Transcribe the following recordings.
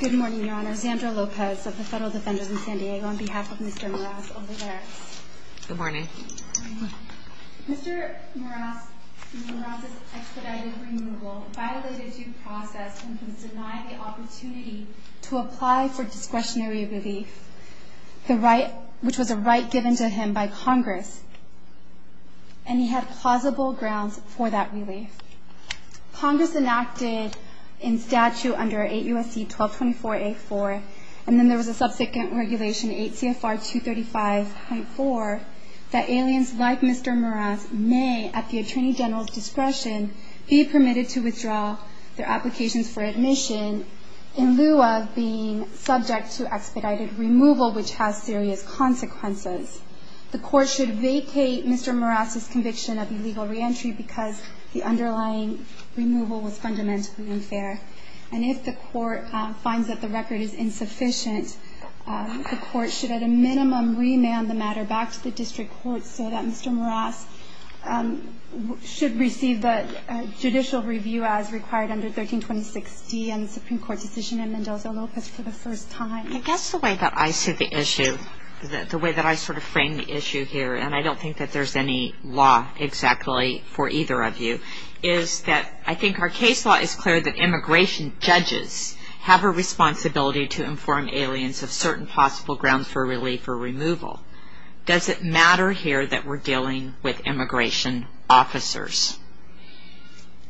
Good morning, Your Honor. Xandra Lopez of the Federal Defenders in San Diego on behalf of Mr. Meraz-Olivera. Good morning. Mr. Meraz's expedited removal violated due process and was denied the opportunity to apply for discretionary relief, which was a right given to him by Congress, and he had plausible grounds for that relief. Congress enacted in statute under 8 U.S.C. 1224-A-4, and then there was a subsequent regulation 8 CFR 235.4, that aliens like Mr. Meraz may, at the Attorney General's discretion, be permitted to withdraw their applications for admission in lieu of being subject to expedited removal, which has serious consequences. The court should vacate Mr. Meraz's conviction of illegal reentry because the underlying removal was fundamentally unfair. And if the court finds that the record is insufficient, the court should, at a minimum, remand the matter back to the district court so that Mr. Meraz should receive a judicial review as required under 1326-D and the Supreme Court decision in Mendoza-Lopez for the first time. I guess the way that I see the issue, the way that I sort of frame the issue here, and I don't think that there's any law exactly for either of you, is that I think our case law is clear that immigration judges have a responsibility to inform aliens of certain possible grounds for relief or removal. Does it matter here that we're dealing with immigration officers?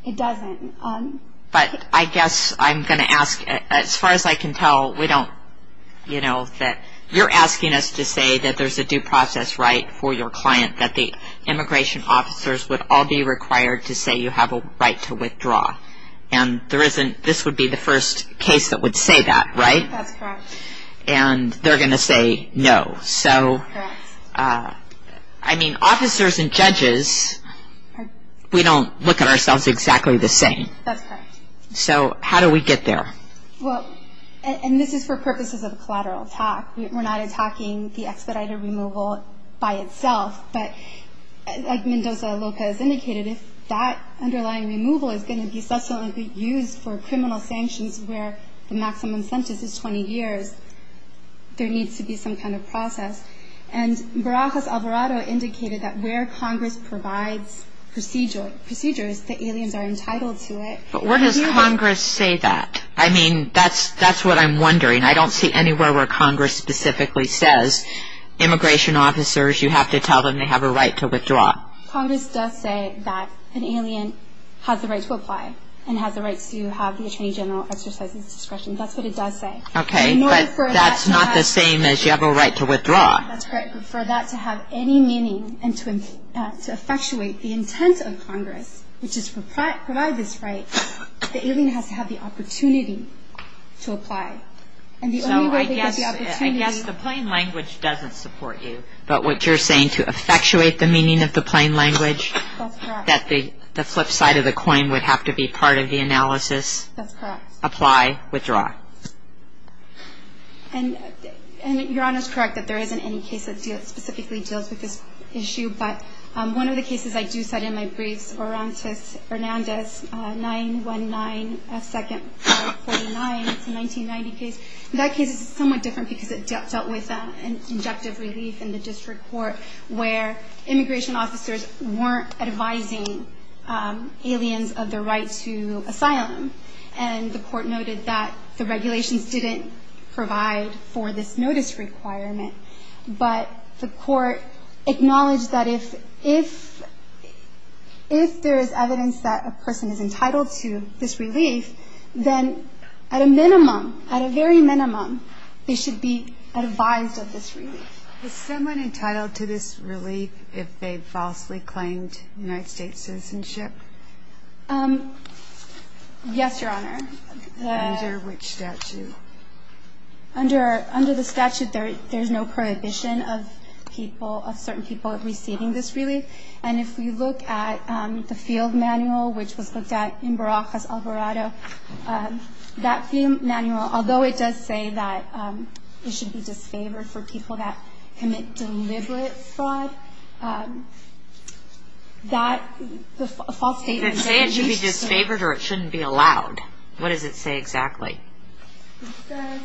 It doesn't. But I guess I'm going to ask, as far as I can tell, we don't, you know, that you're asking us to say that there's a due process right for your client, that the immigration officers would all be required to say you have a right to withdraw. And this would be the first case that would say that, right? That's correct. And they're going to say no. Correct. I mean, officers and judges, we don't look at ourselves exactly the same. That's correct. So how do we get there? Well, and this is for purposes of a collateral attack. We're not attacking the expedited removal by itself. But as Mendoza-Lopez indicated, if that underlying removal is going to be subsequently used for criminal sanctions where the maximum sentence is 20 years, there needs to be some kind of process. And Barajas-Alvarado indicated that where Congress provides procedures, the aliens are entitled to it. But where does Congress say that? I mean, that's what I'm wondering. I don't see anywhere where Congress specifically says, immigration officers, you have to tell them they have a right to withdraw. Congress does say that an alien has the right to apply and has the right to have the Attorney General exercise his discretion. That's what it does say. Okay, but that's not the same as you have a right to withdraw. That's correct. But for that to have any meaning and to effectuate the intent of Congress, which is to provide this right, the alien has to have the opportunity to apply. So I guess the plain language doesn't support you. But what you're saying, to effectuate the meaning of the plain language, that the flip side of the coin would have to be part of the analysis? That's correct. Apply, withdraw. And Your Honor is correct that there isn't any case that specifically deals with this issue. But one of the cases I do cite in my briefs, Orantes-Hernandez, 919F2-49. It's a 1990 case. That case is somewhat different because it dealt with an injunctive relief in the district court where immigration officers weren't advising aliens of their right to asylum. And the court noted that the regulations didn't provide for this notice requirement. But the court acknowledged that if there is evidence that a person is entitled to this relief, then at a minimum, at a very minimum, they should be advised of this relief. Is someone entitled to this relief if they falsely claimed United States citizenship? Yes, Your Honor. Under which statute? Under the statute, there's no prohibition of people, of certain people receiving this relief. And if we look at the field manual, which was looked at in Barajas, Alvarado, that field manual, although it does say that it should be disfavored for people that commit deliberate fraud, that false statement... It didn't say it should be disfavored or it shouldn't be allowed. What does it say exactly? It says...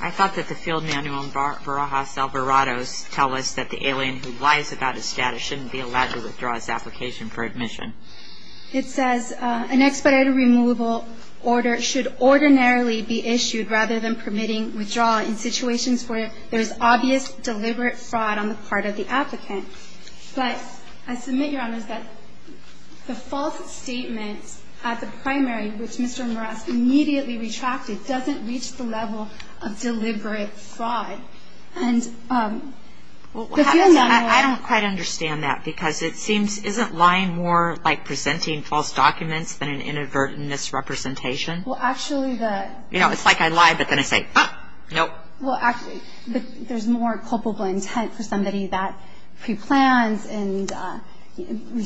I thought that the field manual in Barajas, Alvarado tells us that the alien who lies about his status shouldn't be allowed to withdraw his application for admission. It says, an expedited removal order should ordinarily be issued rather than permitting withdrawal in situations where there's obvious deliberate fraud on the part of the applicant. But I submit, Your Honor, that the false statement at the primary, which Mr. Morales immediately retracted, doesn't reach the level of deliberate fraud. And the field manual... I don't quite understand that, because it seems, isn't lying more like presenting false documents than an inadvertent misrepresentation? Well, actually, the... You know, it's like I lie, but then I say, ah, nope. Well, actually, there's more culpable intent for somebody that preplans and... In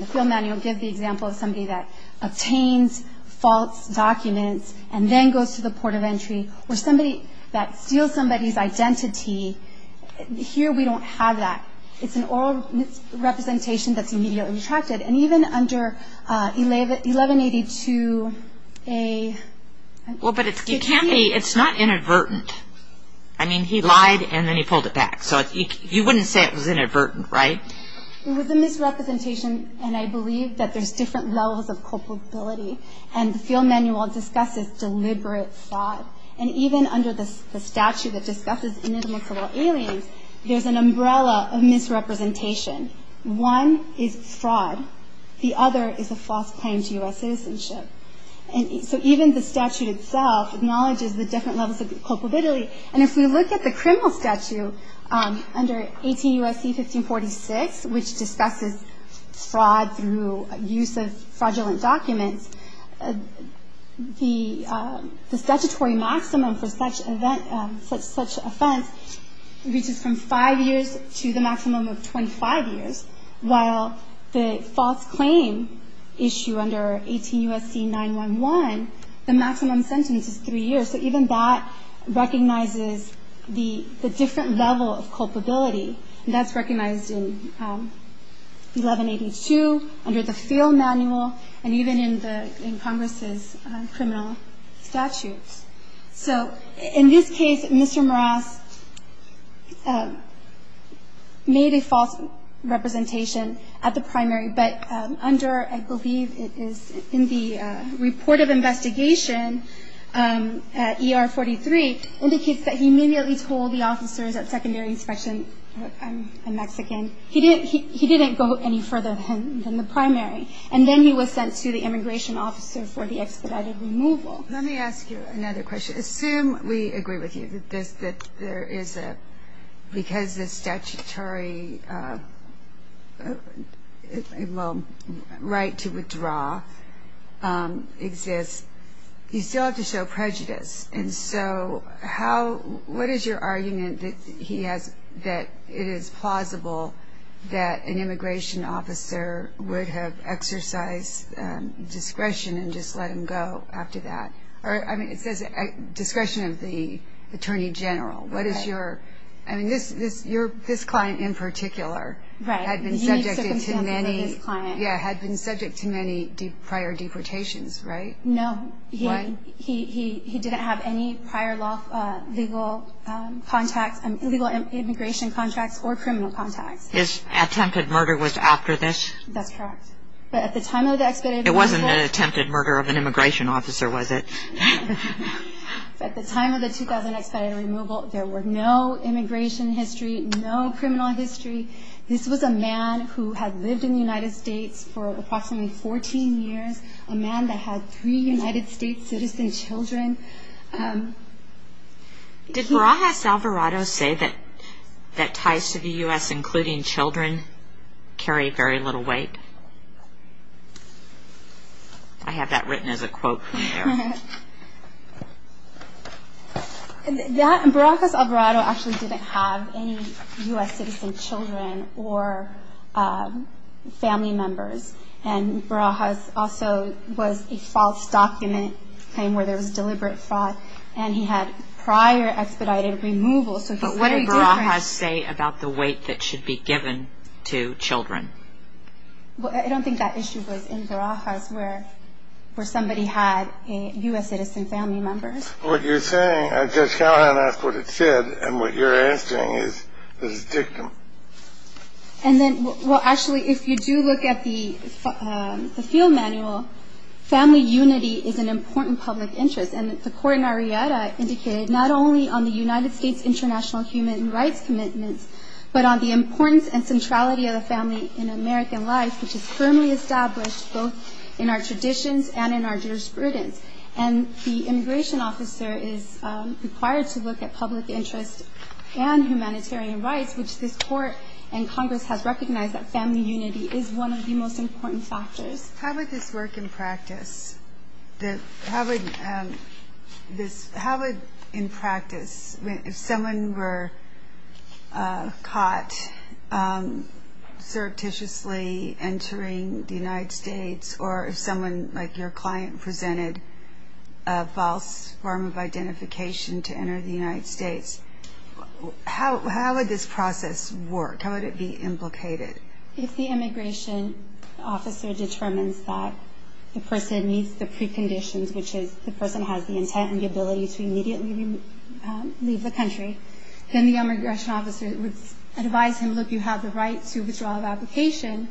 the field manual, it gives the example of somebody that obtains false documents and then goes to the port of entry, or somebody that steals somebody's identity. Here, we don't have that. It's an oral misrepresentation that's immediately retracted. And even under 1182A... Well, but it's not inadvertent. I mean, he lied, and then he pulled it back. So you wouldn't say it was inadvertent, right? It was a misrepresentation, and I believe that there's different levels of culpability. And the field manual discusses deliberate fraud. And even under the statute that discusses inadmissible aliens, there's an umbrella of misrepresentation. One is fraud. The other is a false claim to U.S. citizenship. And so even the statute itself acknowledges the different levels of culpability. And if we look at the criminal statute under 18 U.S.C. 1546, which discusses fraud through use of fraudulent documents, the statutory maximum for such offense reaches from five years to the maximum of 25 years, while the false claim issue under 18 U.S.C. 911, the maximum sentence is three years. So even that recognizes the different level of culpability. And that's recognized in 1182, under the field manual, and even in Congress' criminal statutes. So in this case, Mr. Morales made a false representation at the primary. But under, I believe it is in the report of investigation at ER 43, indicates that he immediately told the officers at secondary inspection, I'm Mexican, he didn't go any further than the primary. And then he was sent to the immigration officer for the expedited removal. Let me ask you another question. Assume we agree with you that there is a, because the statutory right to withdraw exists, you still have to show prejudice. And so how, what is your argument that he has, that it is plausible that an immigration officer would have exercised discretion and just let him go after that? Or, I mean, it says discretion of the attorney general. What is your, I mean, this client in particular had been subject to many prior deportations, right? No. He didn't have any prior legal immigration contracts or criminal contacts. His attempted murder was after this? That's correct. But at the time of the expedited removal. It wasn't an attempted murder of an immigration officer, was it? At the time of the 2000 expedited removal, there were no immigration history, no criminal history. This was a man who had lived in the United States for approximately 14 years, a man that had three United States citizen children. Did Barajas Alvarado say that ties to the U.S., including children, carry very little weight? I have that written as a quote from there. Barajas Alvarado actually didn't have any U.S. citizen children or family members. And Barajas also was a false document claim where there was deliberate fraud. And he had prior expedited removal, so he's very different. But what did Barajas say about the weight that should be given to children? I don't think that issue was in Barajas where somebody had U.S. citizen family members. What you're saying, Judge Callahan asked what it said, and what you're asking is the dictum. And then, well, actually, if you do look at the field manual, family unity is an important public interest. And the court in Arrieta indicated not only on the United States international human rights commitments, but on the importance and centrality of the family in American life, which is firmly established both in our traditions and in our jurisprudence. And the immigration officer is required to look at public interest and humanitarian rights, which this court and Congress has recognized that family unity is one of the most important factors. How would this work in practice? How would in practice, if someone were caught surreptitiously entering the United States, or if someone like your client presented a false form of identification to enter the United States, how would this process work? How would it be implicated? If the immigration officer determines that the person meets the preconditions, which is the person has the intent and the ability to immediately leave the country, then the immigration officer would advise him, look, you have the right to withdrawal of application.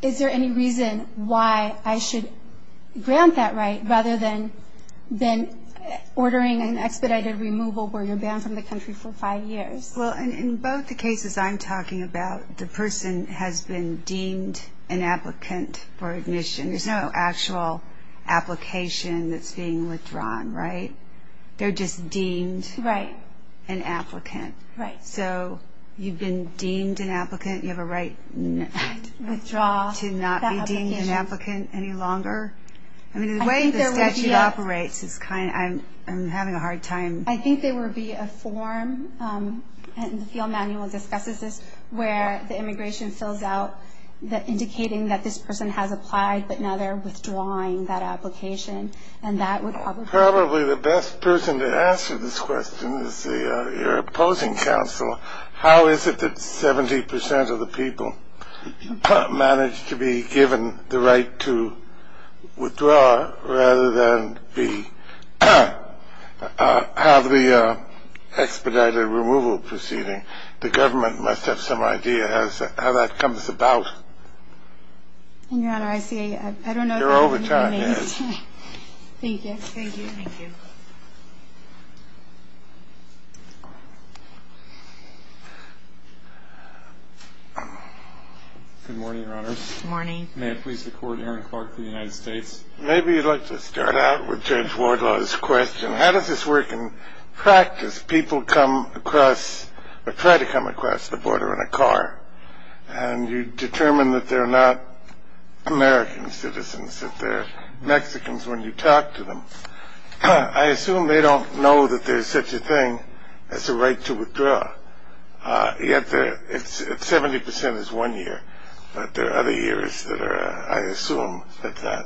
Is there any reason why I should grant that right, rather than ordering an expedited removal where you're banned from the country for five years? Well, in both the cases I'm talking about, the person has been deemed an applicant for admission. There's no actual application that's being withdrawn, right? They're just deemed an applicant. Right. So you've been deemed an applicant. You have a right to not be deemed an applicant any longer. I mean, the way the statute operates is kind of, I'm having a hard time. I think there would be a form, and the field manual discusses this, where the immigration fills out indicating that this person has applied, but now they're withdrawing that application. Probably the best person to answer this question is your opposing counsel. How is it that 70 percent of the people manage to be given the right to withdraw, rather than have the expedited removal proceeding? The government must have some idea how that comes about. Your Honor, I don't know. Your overtime is. Thank you. Thank you. Good morning, Your Honors. Good morning. May it please the Court, Aaron Clark for the United States. Maybe you'd like to start out with Judge Wardlaw's question. How does this work in practice? People come across, or try to come across the border in a car, and you determine that they're not American citizens, that they're Mexicans when you talk to them. I assume they don't know that there's such a thing as a right to withdraw. Yet 70 percent is one year, but there are other years that are, I assume, that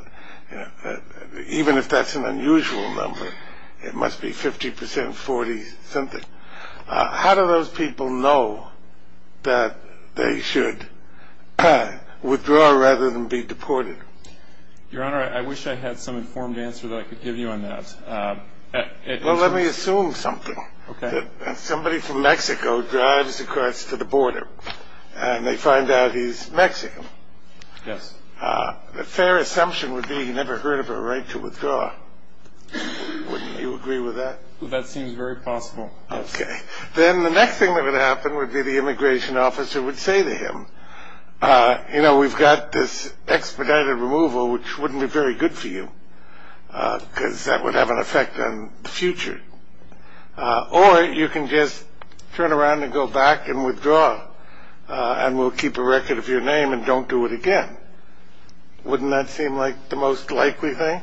even if that's an unusual number, it must be 50 percent, 40 something. How do those people know that they should withdraw rather than be deported? Your Honor, I wish I had some informed answer that I could give you on that. Well, let me assume something. Okay. Somebody from Mexico drives across to the border, and they find out he's Mexican. Yes. A fair assumption would be he never heard of a right to withdraw. Wouldn't you agree with that? That seems very possible, yes. Okay. Then the next thing that would happen would be the immigration officer would say to him, you know, we've got this expedited removal, which wouldn't be very good for you, because that would have an effect on the future. Or you can just turn around and go back and withdraw, and we'll keep a record of your name and don't do it again. Wouldn't that seem like the most likely thing?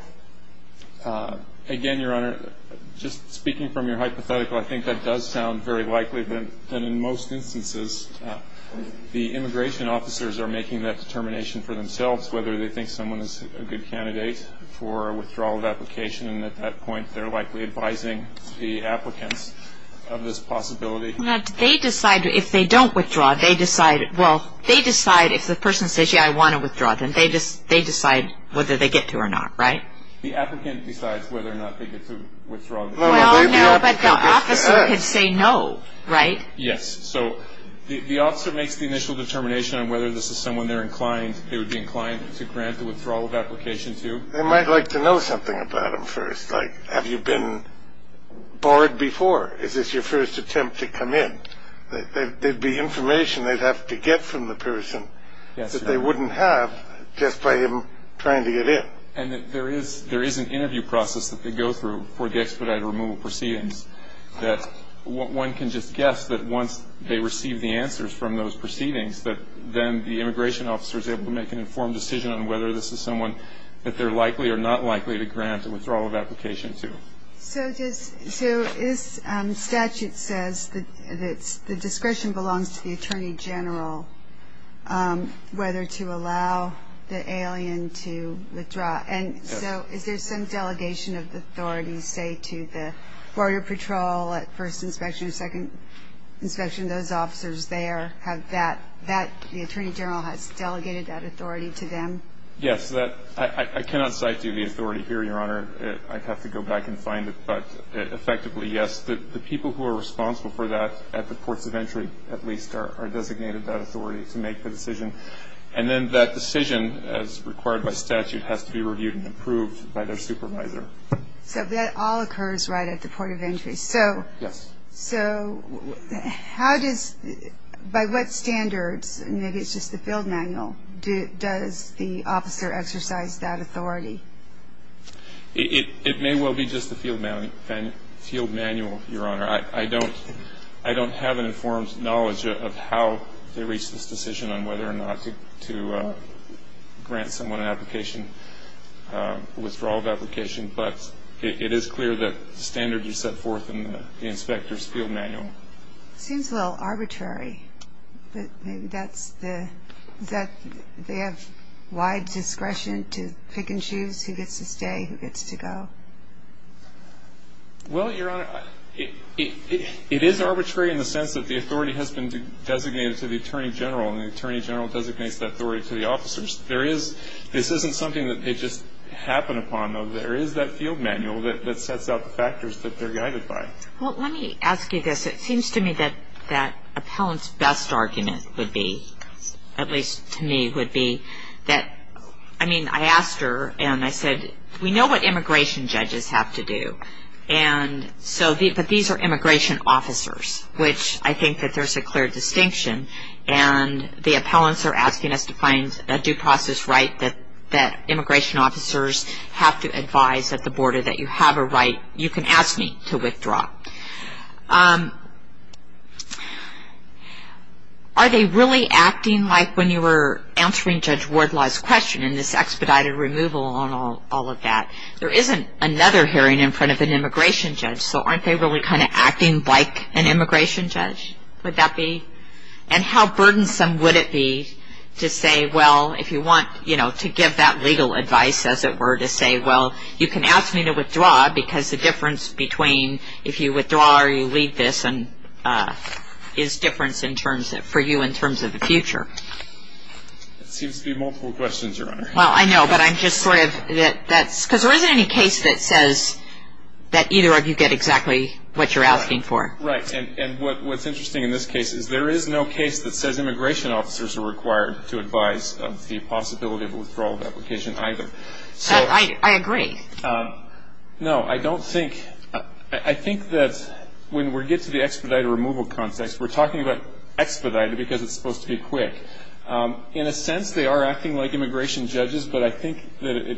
Again, Your Honor, just speaking from your hypothetical, I think that does sound very likely. But in most instances, the immigration officers are making that determination for themselves, whether they think someone is a good candidate for withdrawal of application. And at that point, they're likely advising the applicants of this possibility. Now, do they decide if they don't withdraw, they decide, well, they decide if the person says, they decide whether they get to or not, right? The applicant decides whether or not they get to withdraw. Well, no, but the officer could say no, right? Yes. So the officer makes the initial determination on whether this is someone they're inclined, they would be inclined to grant the withdrawal of application to. They might like to know something about him first, like have you been barred before? Is this your first attempt to come in? There'd be information they'd have to get from the person that they wouldn't have just by him trying to get in. And there is an interview process that they go through for the expedited removal proceedings that one can just guess that once they receive the answers from those proceedings, that then the immigration officer is able to make an informed decision on whether this is someone that they're likely or not likely to grant a withdrawal of application to. So this statute says that the discretion belongs to the attorney general whether to allow the alien to withdraw. And so is there some delegation of authority, say, to the border patrol at first inspection or second inspection, those officers there have that, the attorney general has delegated that authority to them? Yes. I cannot cite to you the authority here, Your Honor. I'd have to go back and find it. But effectively, yes, the people who are responsible for that at the ports of entry, at least, are designated that authority to make the decision. And then that decision, as required by statute, has to be reviewed and approved by their supervisor. So that all occurs right at the port of entry. Yes. So how does, by what standards, maybe it's just the field manual, does the officer exercise that authority? It may well be just the field manual, Your Honor. I don't have an informed knowledge of how they reach this decision on whether or not to grant someone an application, withdrawal of application. But it is clear that the standards are set forth in the inspector's field manual. It seems a little arbitrary, but maybe that's the, is that they have wide discretion to pick and choose who gets to stay, who gets to go? Well, Your Honor, it is arbitrary in the sense that the authority has been designated to the attorney general, and the attorney general designates that authority to the officers. There is, this isn't something that they just happen upon, though there is that field manual that sets out the factors that they're guided by. Well, let me ask you this. It seems to me that that appellant's best argument would be, at least to me, would be that, I mean, I asked her and I said, we know what immigration judges have to do. And so, but these are immigration officers, which I think that there's a clear distinction. And the appellants are asking us to find a due process right that immigration officers have to advise at the border that you have a right, you can ask me, to withdraw. Are they really acting like when you were answering Judge Wardlaw's question in this expedited removal on all of that? There isn't another hearing in front of an immigration judge, so aren't they really kind of acting like an immigration judge? Would that be? And how burdensome would it be to say, well, if you want, you know, to give that legal advice, as it were, to say, well, you can ask me to withdraw because the difference between if you withdraw or you leave this is difference for you in terms of the future. It seems to be multiple questions, Your Honor. Well, I know, but I'm just sort of, because there isn't any case that says that either of you get exactly what you're asking for. Right. And what's interesting in this case is there is no case that says immigration officers are required to advise of the possibility of withdrawal of application either. I agree. No, I don't think, I think that when we get to the expedited removal context, we're talking about expedited because it's supposed to be quick. In a sense, they are acting like immigration judges, but I think that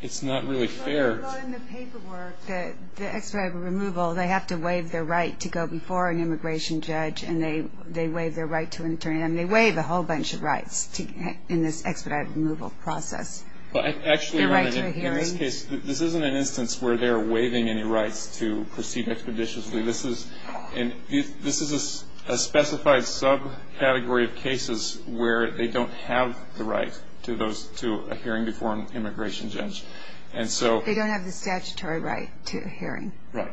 it's not really fair. Well, in the paperwork, the expedited removal, they have to waive their right to go before an immigration judge and they waive their right to an attorney. And they waive a whole bunch of rights in this expedited removal process. Well, actually, in this case, this isn't an instance where they're waiving any rights to proceed expeditiously. This is a specified subcategory of cases where they don't have the right to a hearing before an immigration judge. They don't have the statutory right to a hearing. Right.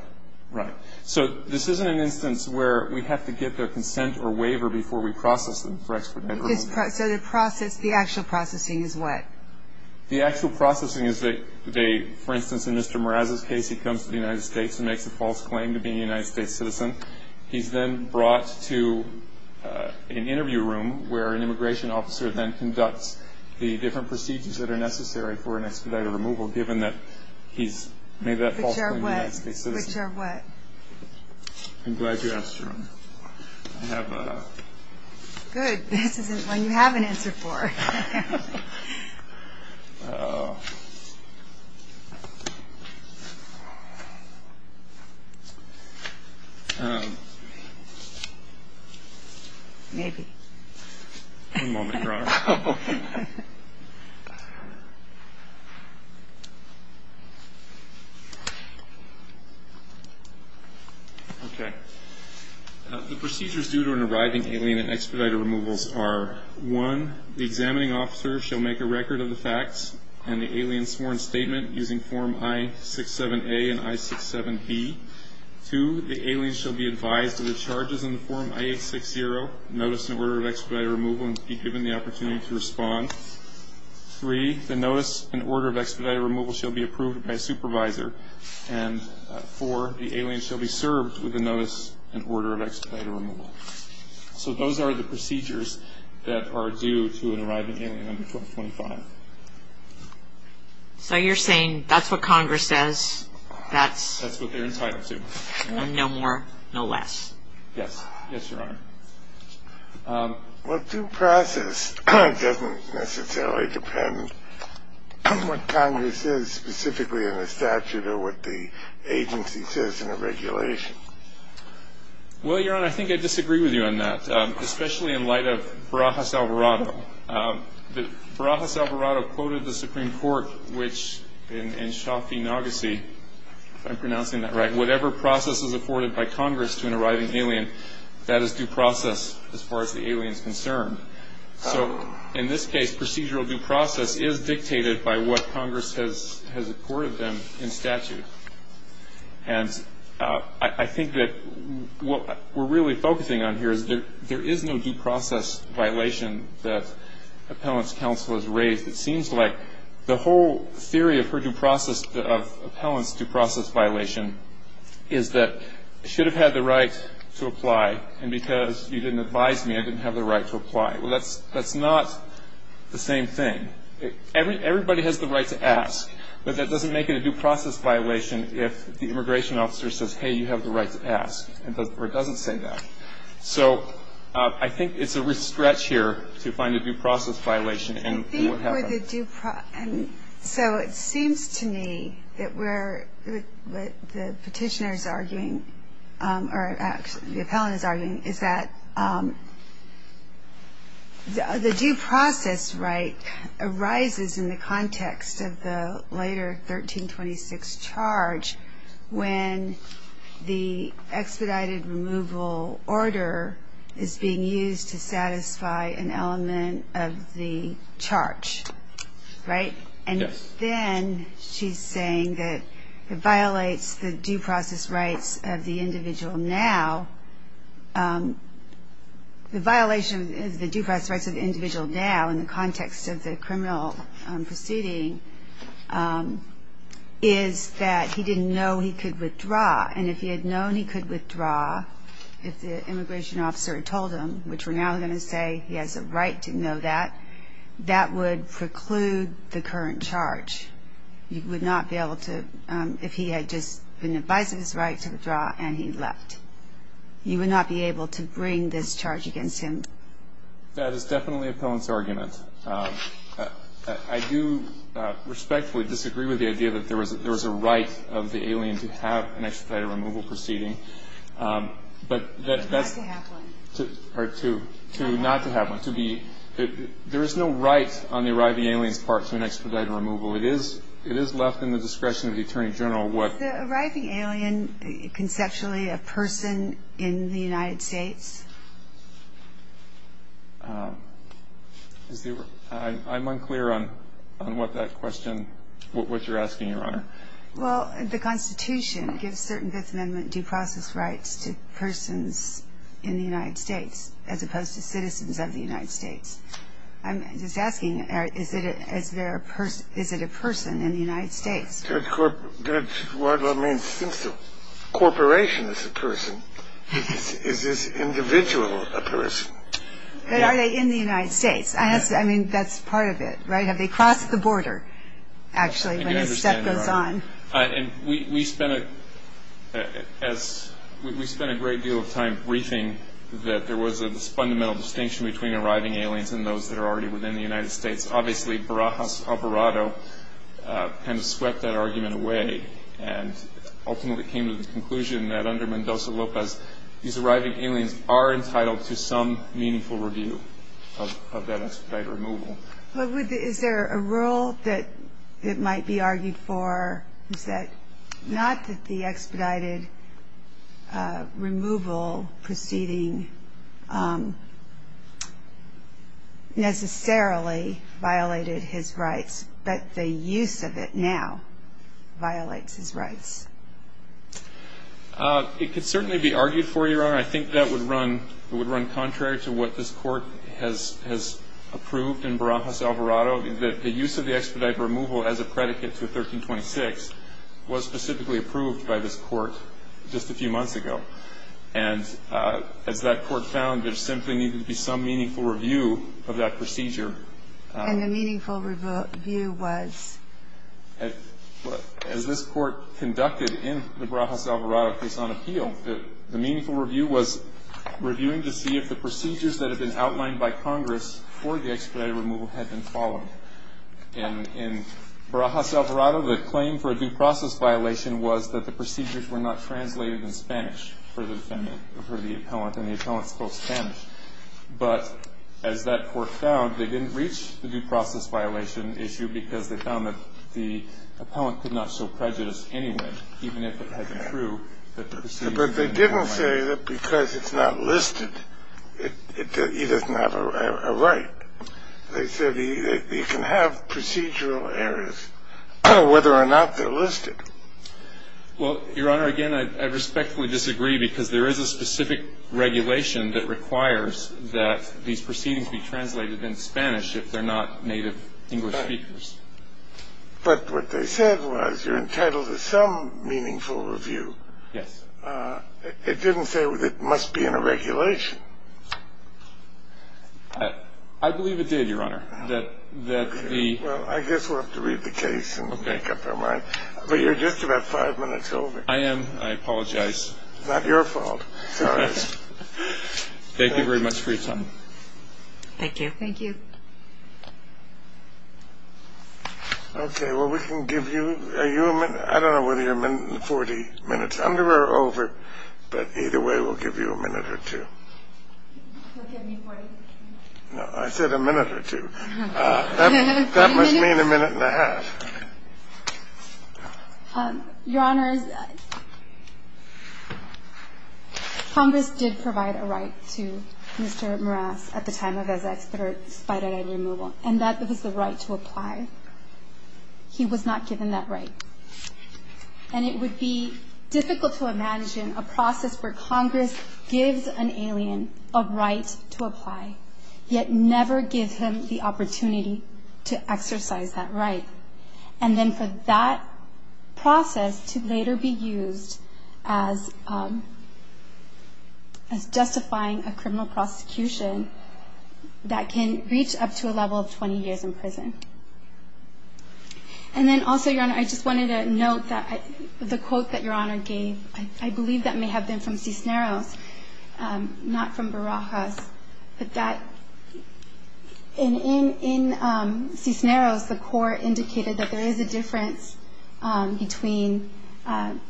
Right. So this isn't an instance where we have to get their consent or waiver before we process them for expedited removal. So the process, the actual processing is what? The actual processing is that they, for instance, in Mr. Mraz's case, he comes to the United States and makes a false claim to being a United States citizen. He's then brought to an interview room where an immigration officer then conducts the different procedures that are necessary for an expedited removal, given that he's made that false claim to being a United States citizen. Which are what? I'm glad you asked, Sharon. I have a… Good. This is one you have an answer for. Maybe. One moment, Your Honor. Okay. The procedures due to an arriving alien in expedited removals are, one, the examining officer shall make a record of the facts and the alien's sworn statement using form I-67A and I-67B. Two, the alien shall be advised of the charges in the form I-860, notice and order of expedited removal and be given the opportunity to respond. Three, the notice and order of expedited removal shall be approved by a supervisor. And four, the alien shall be served with a notice and order of expedited removal. So those are the procedures that are due to an arriving alien under 1225. So you're saying that's what Congress says, that's… That's what they're entitled to. And no more, no less. Yes. Yes, Your Honor. Well, due process doesn't necessarily depend on what Congress says specifically in the statute or what the agency says in the regulation. Well, Your Honor, I think I disagree with you on that, especially in light of Barajas-Alvarado. Barajas-Alvarado quoted the Supreme Court, which in Shafi-Nagassi, if I'm pronouncing that right, that whatever process is accorded by Congress to an arriving alien, that is due process as far as the alien is concerned. So in this case, procedural due process is dictated by what Congress has accorded them in statute. And I think that what we're really focusing on here is there is no due process violation that Appellant's counsel has raised. It seems like the whole theory of her due process, of Appellant's due process violation, is that I should have had the right to apply, and because you didn't advise me, I didn't have the right to apply. Well, that's not the same thing. Everybody has the right to ask, but that doesn't make it a due process violation if the immigration officer says, hey, you have the right to ask, or doesn't say that. So I think it's a risk stretch here to find a due process violation and what happens. So it seems to me that what the Petitioner is arguing, or the Appellant is arguing, is that the due process right arises in the context of the later 1326 charge when the expedited removal order is being used to satisfy an element of the charge. Right? Yes. And then she's saying that it violates the due process rights of the individual now. The violation of the due process rights of the individual now in the context of the criminal proceeding is that he didn't know he could withdraw, and if he had known he could withdraw, if the immigration officer had told him, which we're now going to say he has a right to know that, that would preclude the current charge. You would not be able to, if he had just been advising his right to withdraw and he left. You would not be able to bring this charge against him. That is definitely Appellant's argument. I do respectfully disagree with the idea that there was a right of the alien to have an expedited removal proceeding. But that's to be, there is no right on the arriving alien's part to an expedited removal. It is left in the discretion of the Attorney General what. Is the arriving alien conceptually a person in the United States? I'm unclear on what that question, what you're asking, Your Honor. Well, the Constitution gives certain Fifth Amendment due process rights to persons in the United States as opposed to citizens of the United States. I'm just asking, is it a person in the United States? Well, I mean, since the corporation is a person, is this individual a person? But are they in the United States? I mean, that's part of it, right? Have they crossed the border, actually, when this stuff goes on? And we spent a great deal of time briefing that there was this fundamental distinction between arriving aliens and those that are already within the United States. Obviously, Barajas Alvarado kind of swept that argument away and ultimately came to the conclusion that under Mendoza-Lopez, these arriving aliens are entitled to some meaningful review of that expedited removal. Is there a rule that it might be argued for, is that not that the expedited removal proceeding necessarily violated his rights, but the use of it now violates his rights? It could certainly be argued for, Your Honor. I think that would run contrary to what this Court has approved in Barajas Alvarado, that the use of the expedited removal as a predicate to 1326 was specifically approved by this Court just a few months ago. And as that Court found, there simply needed to be some meaningful review of that procedure. And the meaningful review was? As this Court conducted in the Barajas Alvarado case on appeal, the meaningful review was reviewing to see if the procedures that had been outlined by Congress for the expedited removal had been followed. In Barajas Alvarado, the claim for a due process violation was that the procedures were not translated in Spanish for the defendant, for the appellant, and the appellant spoke Spanish. But as that Court found, they didn't reach the due process violation issue because they found that the appellant could not show prejudice anyway, even if it had been true that the procedures had been outlined. But they didn't say that because it's not listed, it is not a right. They said you can have procedural errors whether or not they're listed. Well, Your Honor, again, I respectfully disagree because there is a specific regulation that requires that these proceedings be translated in Spanish if they're not native English speakers. But what they said was you're entitled to some meaningful review. Yes. It didn't say that it must be in a regulation. I believe it did, Your Honor. Well, I guess we'll have to read the case and make up our minds. But you're just about five minutes over. I am. I apologize. It's not your fault. Thank you very much for your time. Thank you. Thank you. Okay. Well, we can give you a minute. I don't know whether you're a minute and 40 minutes under or over. But either way, we'll give you a minute or two. We'll give you 40. No, I said a minute or two. That must mean a minute and a half. Your Honor, Congress did provide a right to Mr. Morales at the time of his expedited removal. And that was the right to apply. He was not given that right. And it would be difficult to imagine a process where Congress gives an alien a right to apply, yet never gives him the opportunity to exercise that right. And then for that process to later be used as justifying a criminal prosecution that can reach up to a level of 20 years in prison. And then also, Your Honor, I just wanted to note that the quote that Your Honor gave, I believe that may have been from Cisneros, not from Barajas. But that in Cisneros, the court indicated that there is a difference between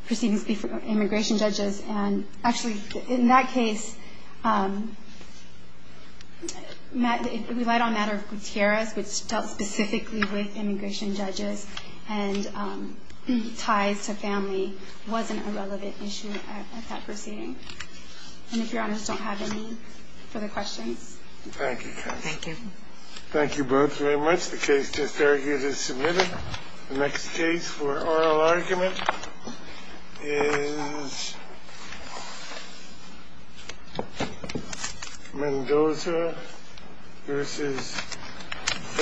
proceedings before immigration judges. And actually, in that case, it relied on matter of criterias, which dealt specifically with immigration judges. And ties to family wasn't a relevant issue at that proceeding. And if Your Honor's don't have any further questions. Thank you, counsel. Thank you. Thank you both very much. The case just argued is submitted. The next case for oral argument is Mendoza v.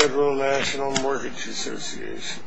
Federal National Mortgage Association. Thank you.